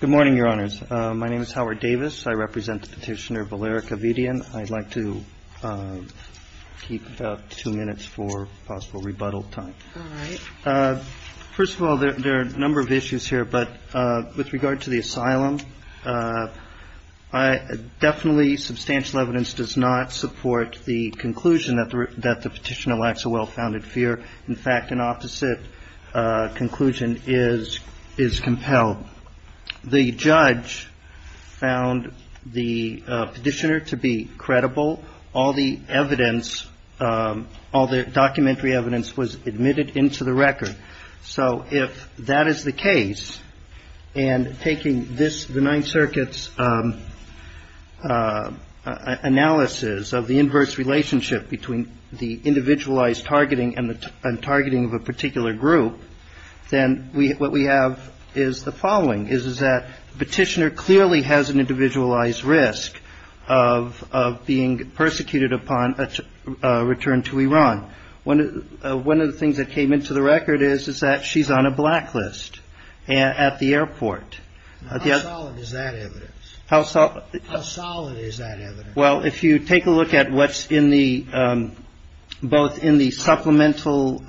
Good morning, Your Honors. My name is Howard Davis. I represent Petitioner Valerik Avedian. I'd like to keep about two minutes for possible rebuttal time. All right. First of all, there are a number of issues here, but with regard to the asylum, definitely substantial evidence does not support the conclusion that the petitioner lacks a well-founded fear. In fact, an opposite conclusion is compelled. The judge found the petitioner to be credible. All the documentary evidence was admitted into the record. So if that is the case, and taking the Ninth Circuit's analysis of the inverse relationship between the individualized targeting and the targeting of a particular group, then what we have is the following, is that the petitioner clearly has an individualized risk of being persecuted upon a return to Iran. One of the things that came into the record is that she's on a blacklist at the airport. How solid is that evidence? Well, if you take a look at what's in the both in the supplemental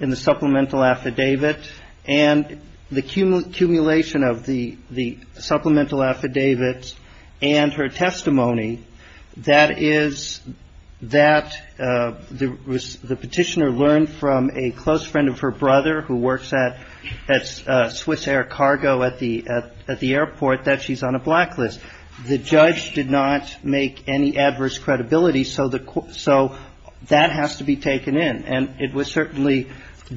in the supplemental affidavit and the accumulation of the supplemental affidavit and her testimony, that is that the petitioner learned from a close friend of her brother who works at Swiss Air Cargo at the at the airport that she's on a blacklist. The judge did not make any adverse credibility, so that has to be taken in. And it was certainly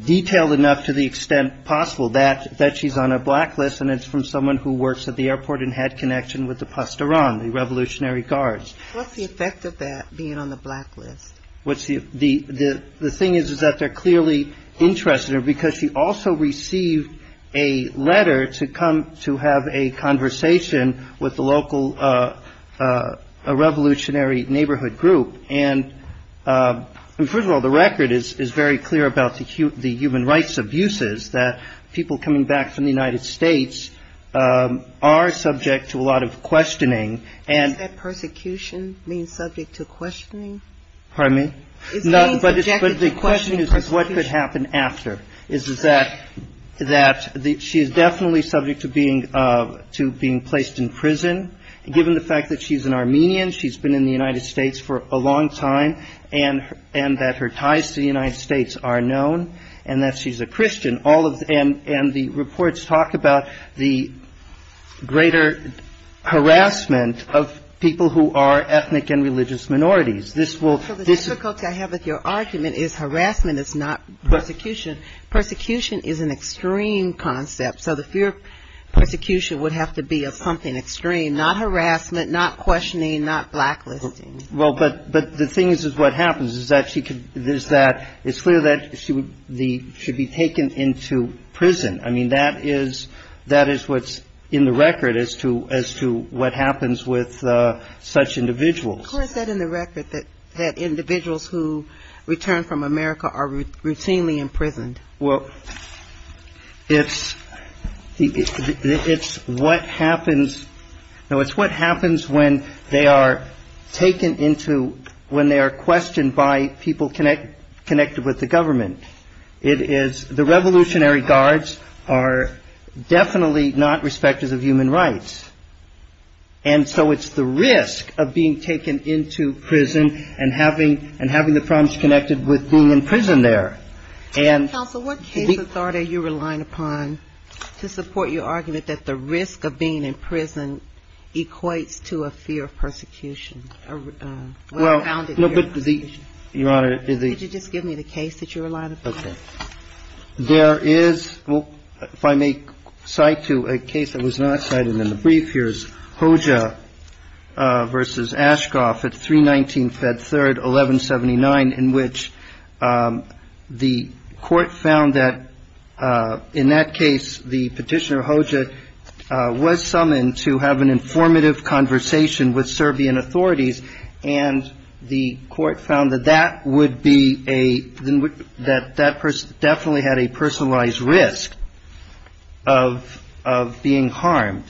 detailed enough to the extent possible that she's on a blacklist, and it's from someone who works at the airport and had connection with the Pasteran, the Revolutionary Guards. What's the effect of that, being on the blacklist? The thing is, is that they're clearly interested in her because she also received a letter to come to have a conversation with the local Revolutionary Neighborhood Group. And first of all, the record is very clear about the human rights abuses that people coming back from the United States are subject to a lot of questioning. And that persecution means subject to questioning? Pardon me? But the question is, what could happen after? Is that she is definitely subject to being placed in prison. Given the fact that she's an Armenian, she's been in the United States for a long time, and that her ties to the United States are known, and that she's a Christian, all of them, and the reports talk about the greater harassment of people who are ethnic and religious minorities. So the difficulty I have with your argument is harassment is not persecution. Persecution is an extreme concept. So the fear of persecution would have to be of something extreme, not harassment, not questioning, not blacklisting. Well, but the thing is what happens is that it's clear that she should be taken into prison. I mean, that is what's in the record as to what happens with such individuals. How is that in the record, that individuals who return from America are routinely imprisoned? Well, it's what happens when they are taken into, when they are questioned by people connected with the government. It is, the Revolutionary Guards are definitely not respecters of human rights. And so it's the risk of being taken into prison and having the problems connected with being in prison there. Counsel, what case authority are you relying upon to support your argument that the risk of being in prison equates to a fear of persecution? Well, no, but the, Your Honor, is the... Could you just give me the case that you're relying upon? OK. There is, if I may cite to a case that was not cited in the brief, here's Hoxha versus Ashcroft at 319 Fed 3rd, 1179, in which the court found that in that case, the petitioner Hoxha was summoned to have an informative conversation with Serbian authorities. And the court found that that would be a, that that person definitely had a personalized risk of being harmed.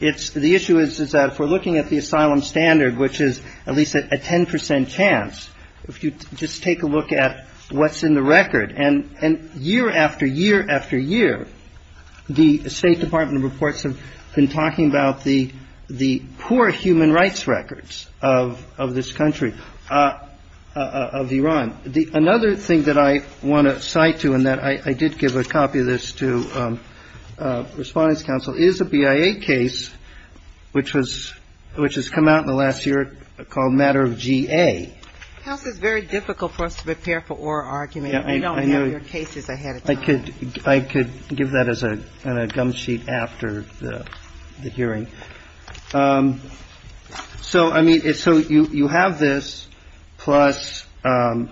It's the issue is that if we're looking at the asylum standard, which is at least a 10 percent chance, if you just take a look at what's in the record and year after year after year, the State Department reports have been talking about the poor human rights records of this country, of Iran. Another thing that I want to cite to, and that I did give a copy of this to Respondents' Counsel, is a BIA case which has come out in the last year called Matter of G.A. Counsel, it's very difficult for us to prepare for oral argument. I could I could give that as a gum sheet after the hearing. So I mean, it's so you have this plus the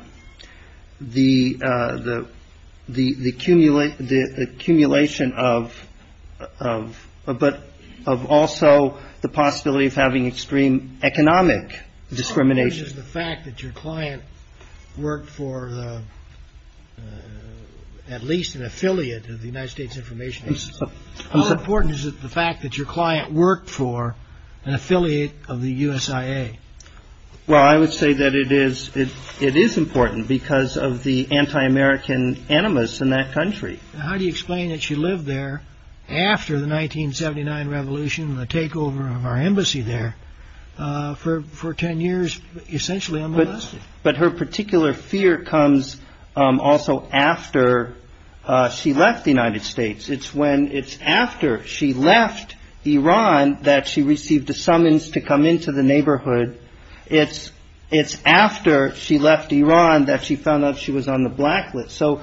the the the cumulate the accumulation of of but of also the possibility of having extreme economic discrimination. The fact that your client worked for the at least an affiliate of the United States information is important. Is it the fact that your client worked for an affiliate of the USIA? Well, I would say that it is it it is important because of the anti-American animus in that country. How do you explain that? She lived there after the 1979 revolution, the takeover of our embassy there for for 10 years, essentially. But her particular fear comes also after she left the United States. It's when it's after she left Iran that she received a summons to come into the neighborhood. It's it's after she left Iran that she found out she was on the blacklist. So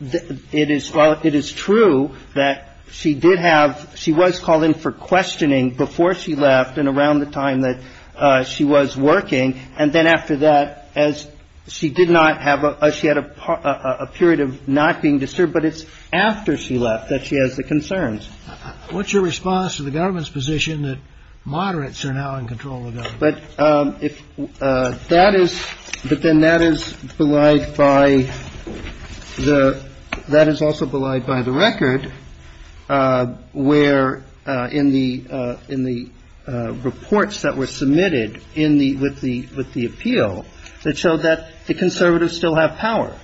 it is it is true that she did have she was called in for questioning before she left and around the time that she was working. And then after that, as she did not have a she had a period of not being disturbed. But it's after she left that she has the concerns. What's your response to the government's position that moderates are now in control? But if that is but then that is belied by the that is also belied by the record where in the in the reports that were submitted in the with the with the appeal that showed that the conservatives still have power.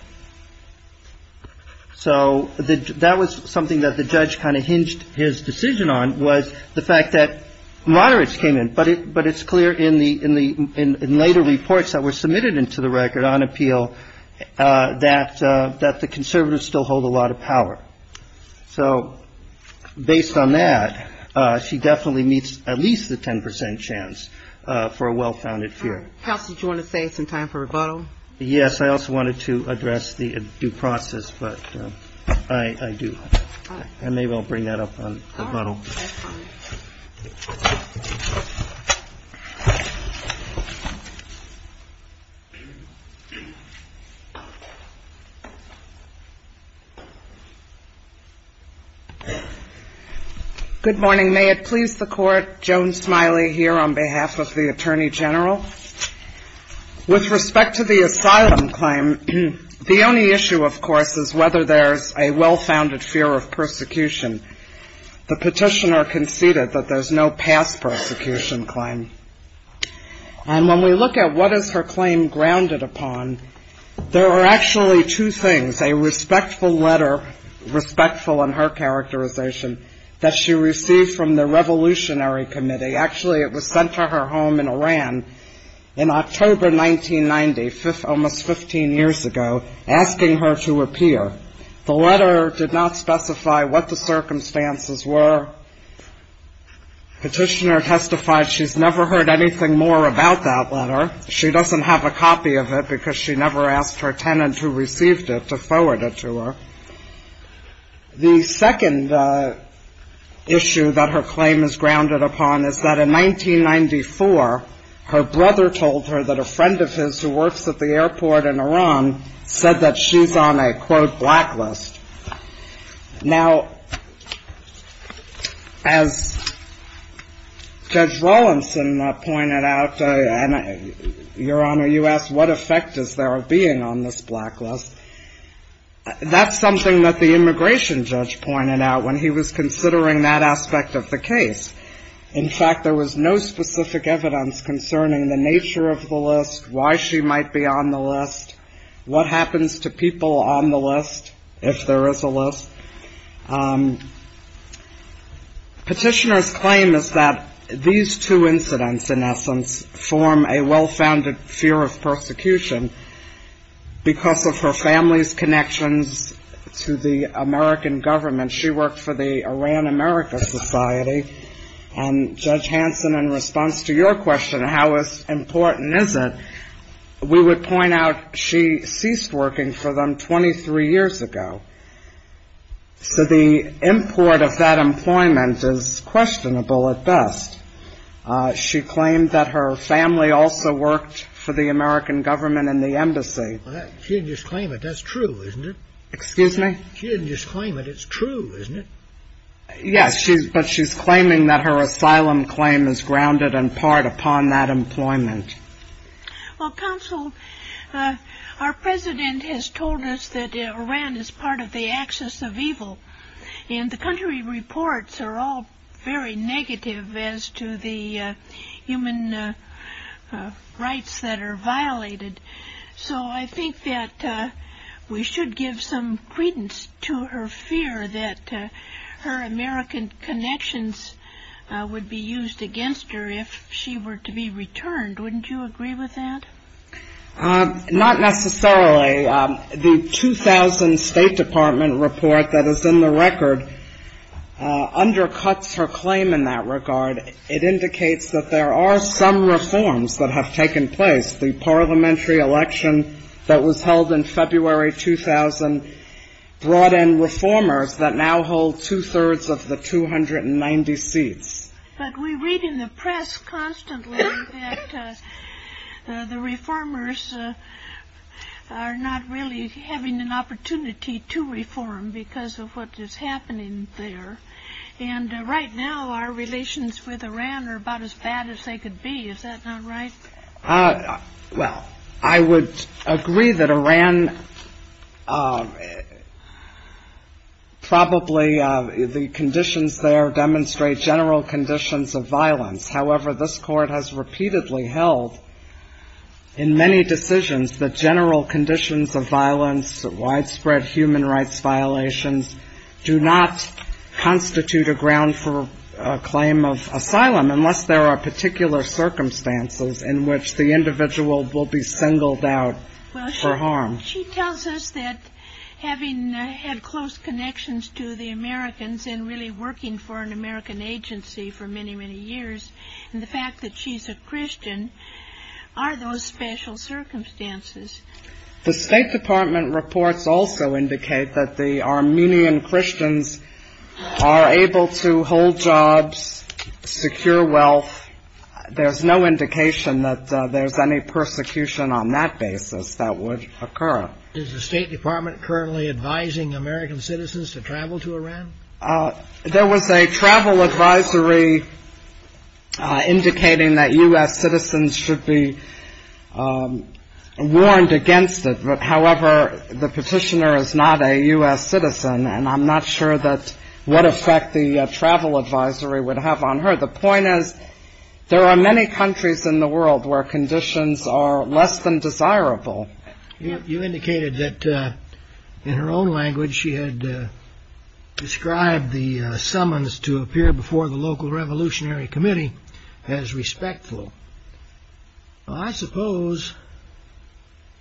So that was something that the judge kind of hinged his decision on was the fact that moderates came in. But but it's clear in the in the in later reports that were submitted into the record on appeal that that the conservatives still hold a lot of power. So based on that, she definitely meets at least the 10 percent chance for a well-founded fear. How did you want to say it's in time for rebuttal? Yes. I also wanted to address the due process, but I do. And they will bring that up on. Good morning. May it please the court. Joan Smiley here on behalf of the attorney general. With respect to the asylum claim, the only issue, of course, is whether there's a well-founded fear of persecution. The petitioner conceded that there's no past persecution claim. And when we look at what is her claim grounded upon, there are actually two things, a respectful letter, respectful in her characterization that she received from the Revolutionary Committee. Actually, it was sent to her home in Iran in October 1990, almost 15 years ago, asking her to appear. The letter did not specify what the circumstances were. Petitioner testified she's never heard anything more about that letter. She doesn't have a copy of it because she never asked her tenant who received it to forward it to her. The second issue that her claim is grounded upon is that in 1994, her brother told her that a friend of his who works at the airport in Iran said that she's on a, quote, blacklist. Now, as Judge Rawlinson pointed out, Your Honor, you asked what effect is there of being on this blacklist? That's something that the immigration judge pointed out when he was considering that aspect of the case. In fact, there was no specific evidence concerning the nature of the list, why she might be on the list, what happens to people on the list if there is a list. Petitioner's claim is that these two incidents, in essence, form a well-founded fear of persecution. Because of her family's connections to the American government, she worked for the Iran America Society. And Judge Hanson, in response to your question, how important is it, we would point out she ceased working for them 23 years ago. So the import of that employment is questionable at best. She claimed that her family also worked for the American government and the embassy. She didn't just claim it, that's true, isn't it? Excuse me? She didn't just claim it, it's true, isn't it? Yes, but she's claiming that her asylum claim is grounded in part upon that employment. Well, counsel, our president has told us that Iran is part of the axis of evil. And the country reports are all very negative as to the human rights that are violated. So I think that we should give some credence to her fear that her American connections would be used against her if she were to be returned. Wouldn't you agree with that? Not necessarily. The 2000 State Department report that is in the record undercuts her claim in that regard. It indicates that there are some reforms that have taken place. The parliamentary election that was held in February 2000 brought in reformers that now hold two-thirds of the 290 seats. But we read in the press constantly that the reformers are not really having an opportunity to reform because of what is happening there. And right now our relations with Iran are about as bad as they could be. Is that not right? Well, I would agree that Iran probably the conditions there demonstrate general conditions of violence. The State Department reports do not constitute a ground for a claim of asylum unless there are particular circumstances in which the individual will be singled out for harm. Well, she tells us that having had close connections to the Americans and really working for an American agency for many, many years, and the fact that she's a Christian, are those special circumstances. The State Department reports also indicate that the Armenian Christians are able to hold jobs, secure wealth. There's no indication that there's any persecution on that basis that would occur. Is the State Department currently advising American citizens to travel to Iran? There was a travel advisory indicating that U.S. citizens should be warned against it. But however, the petitioner is not a U.S. citizen, and I'm not sure that what effect the travel advisory would have on her. The point is there are many countries in the world where conditions are less than desirable. You indicated that in her own language she had described the summons to appear before the local revolutionary committee as respectful. I suppose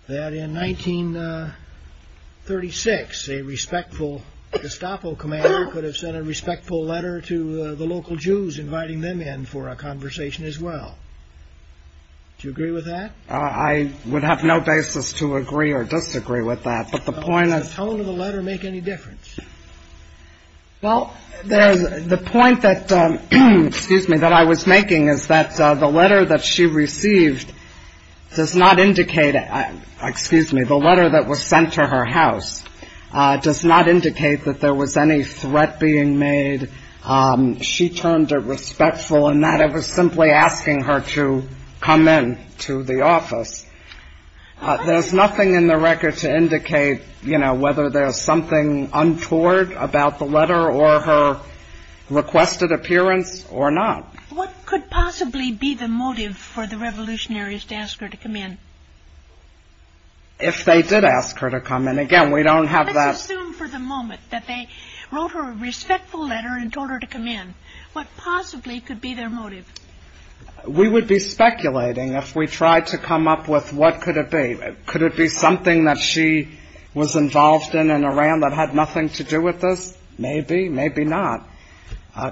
that in 1936, a respectful Gestapo commander could have sent a respectful letter to the local Jews inviting them in for a conversation as well. Do you agree with that? I would have no basis to agree or disagree with that, but the point is — Well, does the tone of the letter make any difference? Well, the point that — excuse me — that I was making is that the letter that she received does not indicate — excuse me, the letter that was sent to her house does not indicate that there was any threat being made. She turned it respectful in that it was simply asking her to come in to the office. There's nothing in the record to indicate, you know, whether there's something untoward about the letter or her requested appearance or not. What could possibly be the motive for the revolutionaries to ask her to come in? If they did ask her to come in. Again, we don't have that — What possibly could be their motive? We would be speculating if we tried to come up with what could it be. Could it be something that she was involved in in Iran that had nothing to do with this? Maybe, maybe not.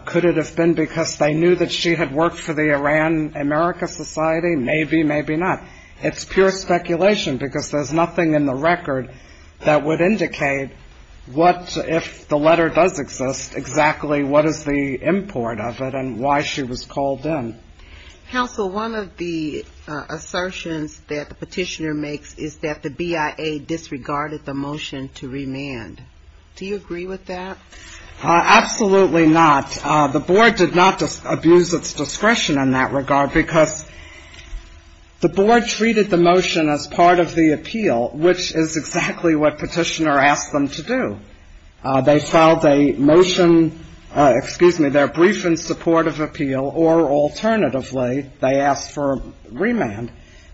Could it have been because they knew that she had worked for the Iran America Society? Maybe, maybe not. It's pure speculation because there's nothing in the record that would indicate what — if the letter does exist, exactly what is the import of it and why she was called in. Counsel, one of the assertions that the petitioner makes is that the BIA disregarded the motion to remand. Do you agree with that? Absolutely not. The board did not abuse its discretion in that regard because the board treated the motion as part of the appeal, which is exactly what petitioner asked them to do. They filed a motion — excuse me, their brief in support of appeal, or alternatively, they asked for remand.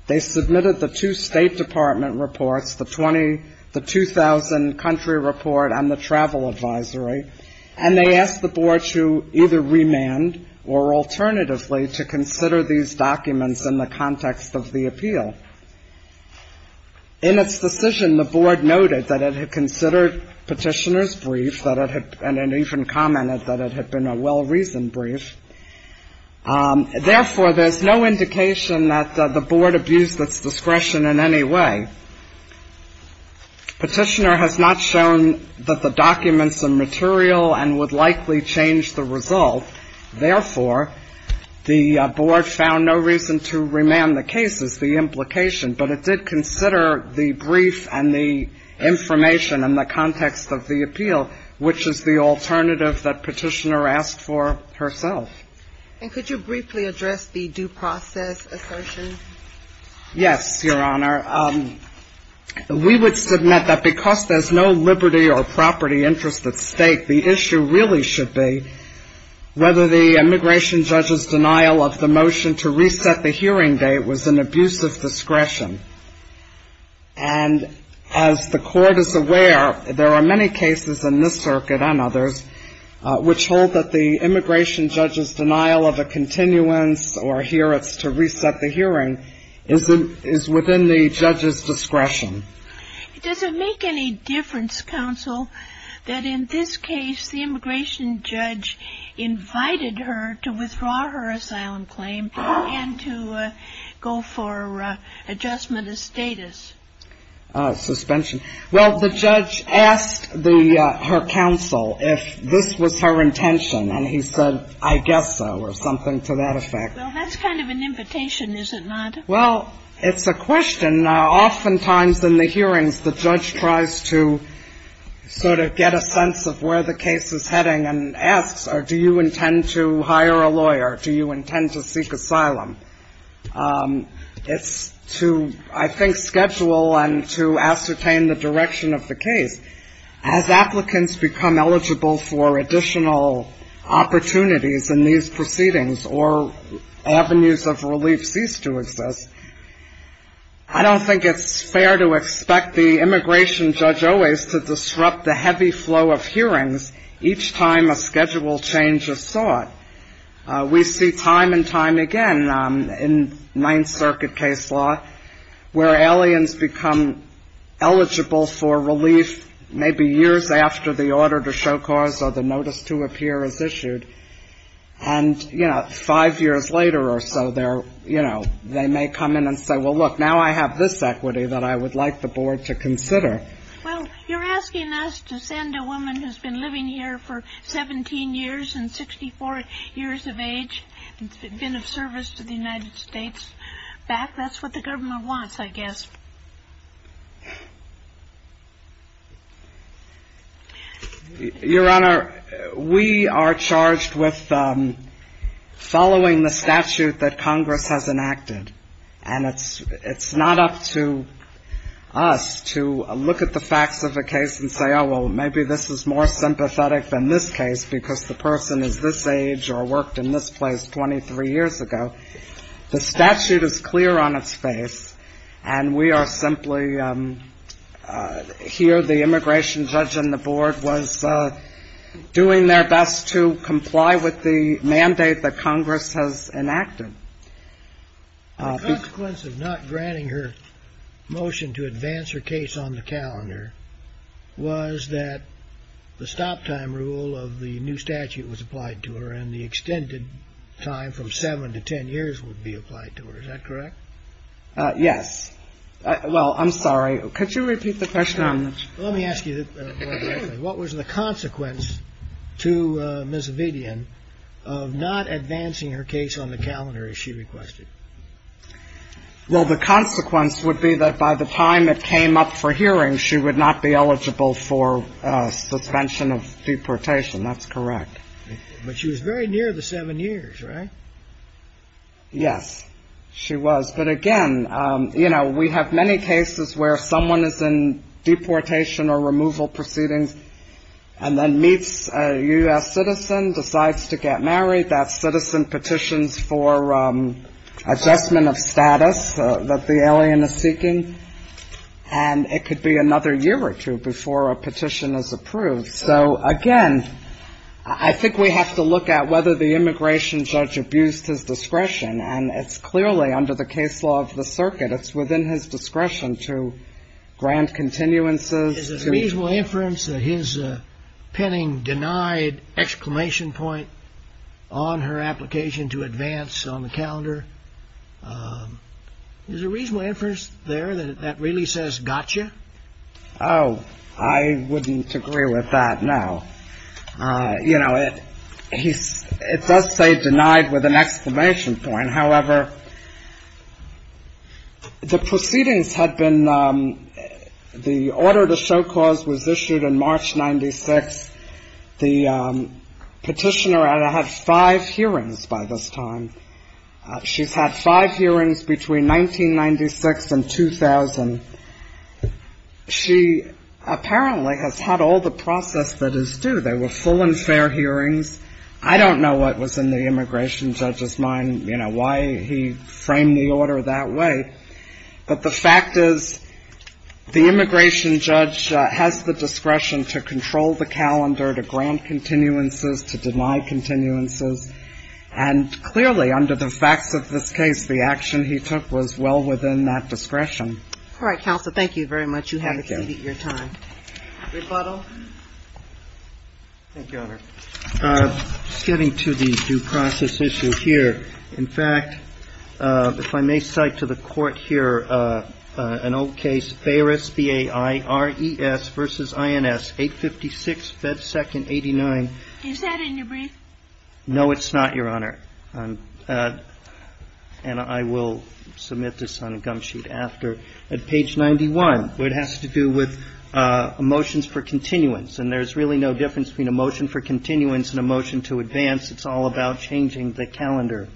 They submitted the two State Department reports, the 2000 country report and the travel advisory, and they asked the board to either remand or alternatively to consider these documents in the context of the appeal. In its decision, the board noted that it had considered petitioner's brief and even commented that it had been a well-reasoned brief. Therefore, there's no indication that the board abused its discretion in any way. Petitioner has not shown that the documents are material and would likely change the result. Therefore, the board found no reason to remand the cases, the implication, but it did consider the brief and the information in the context of the appeal, which is the alternative that petitioner asked for herself. And could you briefly address the due process assertion? Yes, Your Honor. We would submit that because there's no liberty or property interest at stake, the issue really should be whether the immigration judge's denial of the motion to reset the hearing date was an abuse of discretion. And as the court is aware, there are many cases in this circuit and others which hold that the immigration judge's denial of a continuance or here it's to reset the hearing is within the judge's discretion. Does it make any difference, counsel, that in this case the immigration judge invited her to withdraw her asylum claim and to go for adjustment of status? Suspension. Well, the judge asked her counsel if this was her intention, and he said, I guess so, or something to that effect. Well, that's kind of an invitation, is it not? Well, it's a question. Oftentimes in the hearings, the judge tries to sort of get a sense of where the case is heading and asks, do you intend to hire a lawyer, do you intend to seek asylum? It's to, I think, schedule and to ascertain the direction of the case. As applicants become eligible for additional opportunities in these proceedings or avenues of relief cease to exist, I don't think it's fair to expect the immigration judge always to disrupt the heavy flow of hearings each time a schedule change is sought. We see time and time again in Ninth Circuit case law where aliens become eligible for relief maybe years after the order to show cause or the notice to appear is issued. And, you know, five years later or so, they're, you know, they may come in and say, well, look, now I have this equity that I would like the board to consider. Well, you're asking us to send a woman who's been living here for 17 years and 64 years of age and been of service to the United States back. That's what the government wants, I guess. Your Honor, we are charged with following the statute that Congress has enacted. And it's not up to us to look at the facts of a case and say, oh, well, maybe this is more sympathetic than this case because the person is this age or worked in this place 23 years ago. The statute is clear on its face, and we are simply here. The immigration judge on the board was doing their best to comply with the mandate that Congress has enacted. The consequence of not granting her motion to advance her case on the calendar was that the stop time rule of the new statute was applied to her and the extended time from seven to 10 years would be applied to her. Is that correct? Yes. Well, I'm sorry. Could you repeat the question? Let me ask you what was the consequence to Ms. Vidian of not advancing her case on the calendar as she requested? Well, the consequence would be that by the time it came up for hearing, she would not be eligible for suspension of deportation. That's correct. But she was very near the seven years, right? Yes, she was. But, again, you know, we have many cases where someone is in deportation or removal proceedings and then meets a U.S. citizen, decides to get married. That citizen petitions for adjustment of status that the alien is seeking, and it could be another year or two before a petition is approved. So, again, I think we have to look at whether the immigration judge abused his discretion, and it's clearly under the case law of the circuit. It's within his discretion to grant continuances. Is it reasonable inference that his petting denied exclamation point on her application to advance on the calendar? Is it reasonable inference there that that really says gotcha? Oh, I wouldn't agree with that, no. You know, it does say denied with an exclamation point. However, the proceedings had been the order to show cause was issued in March 96. The petitioner had five hearings by this time. She's had five hearings between 1996 and 2000. She apparently has had all the process that is due. They were full and fair hearings. I don't know what was in the immigration judge's mind, you know, why he framed the order that way, but the fact is the immigration judge has the discretion to control the calendar, to grant continuances, to deny continuances, and clearly under the facts of this case the action he took was well within that discretion. All right, Counsel. Thank you very much. You have exceeded your time. Thank you, Your Honor. Getting to the due process issue here, in fact, if I may cite to the court here an old case, Bayeris, B-A-I-R-E-S versus I-N-S, 856, Fed Second, 89. Is that in your brief? No, it's not, Your Honor. And I will submit this on a gum sheet after, at page 91, where it has to do with motions for continuance. And there's really no difference between a motion for continuance and a motion to advance. It's all about changing the calendar.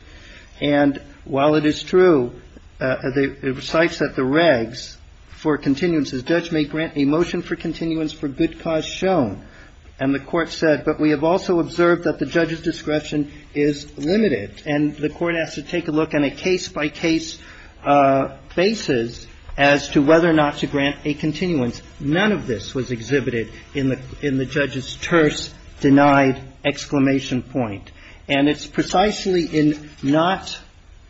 And while it is true, it cites that the regs for continuances, judge may grant a motion for continuance for good cause shown. And the Court said, but we have also observed that the judge's discretion is limited. And the Court has to take a look on a case-by-case basis as to whether or not to grant a continuance. None of this was exhibited in the judge's terse, denied exclamation point. And it's precisely in not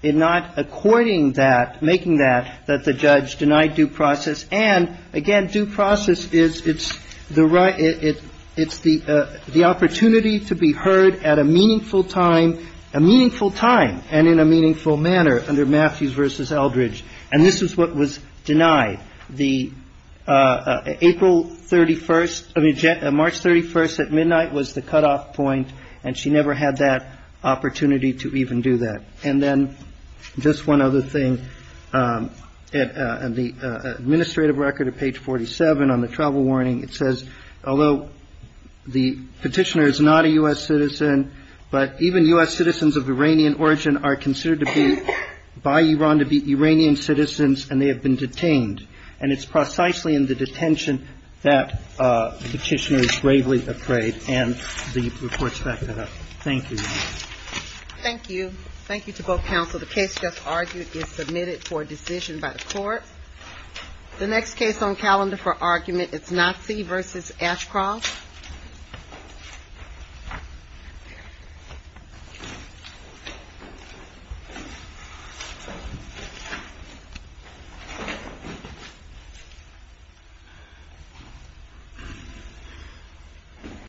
according that, making that, that the judge denied due process. And, again, due process is, it's the right, it's the opportunity to be heard at a meaningful time, a meaningful time and in a meaningful manner under Matthews versus Eldridge. And this is what was denied. The April 31st, I mean, March 31st at midnight was the cutoff point. And she never had that opportunity to even do that. And then just one other thing. In the administrative record at page 47 on the travel warning, it says, although the Petitioner is not a U.S. citizen, but even U.S. citizens of Iranian origin are considered to be by Iran to be Iranian citizens and they have been detained. And it's precisely in the detention that the Petitioner is gravely afraid. And the report's back to her. Thank you. Thank you. Thank you to both counsel. The case just argued is submitted for a decision by the court. The next case on calendar for argument is Nazi versus Ashcroft.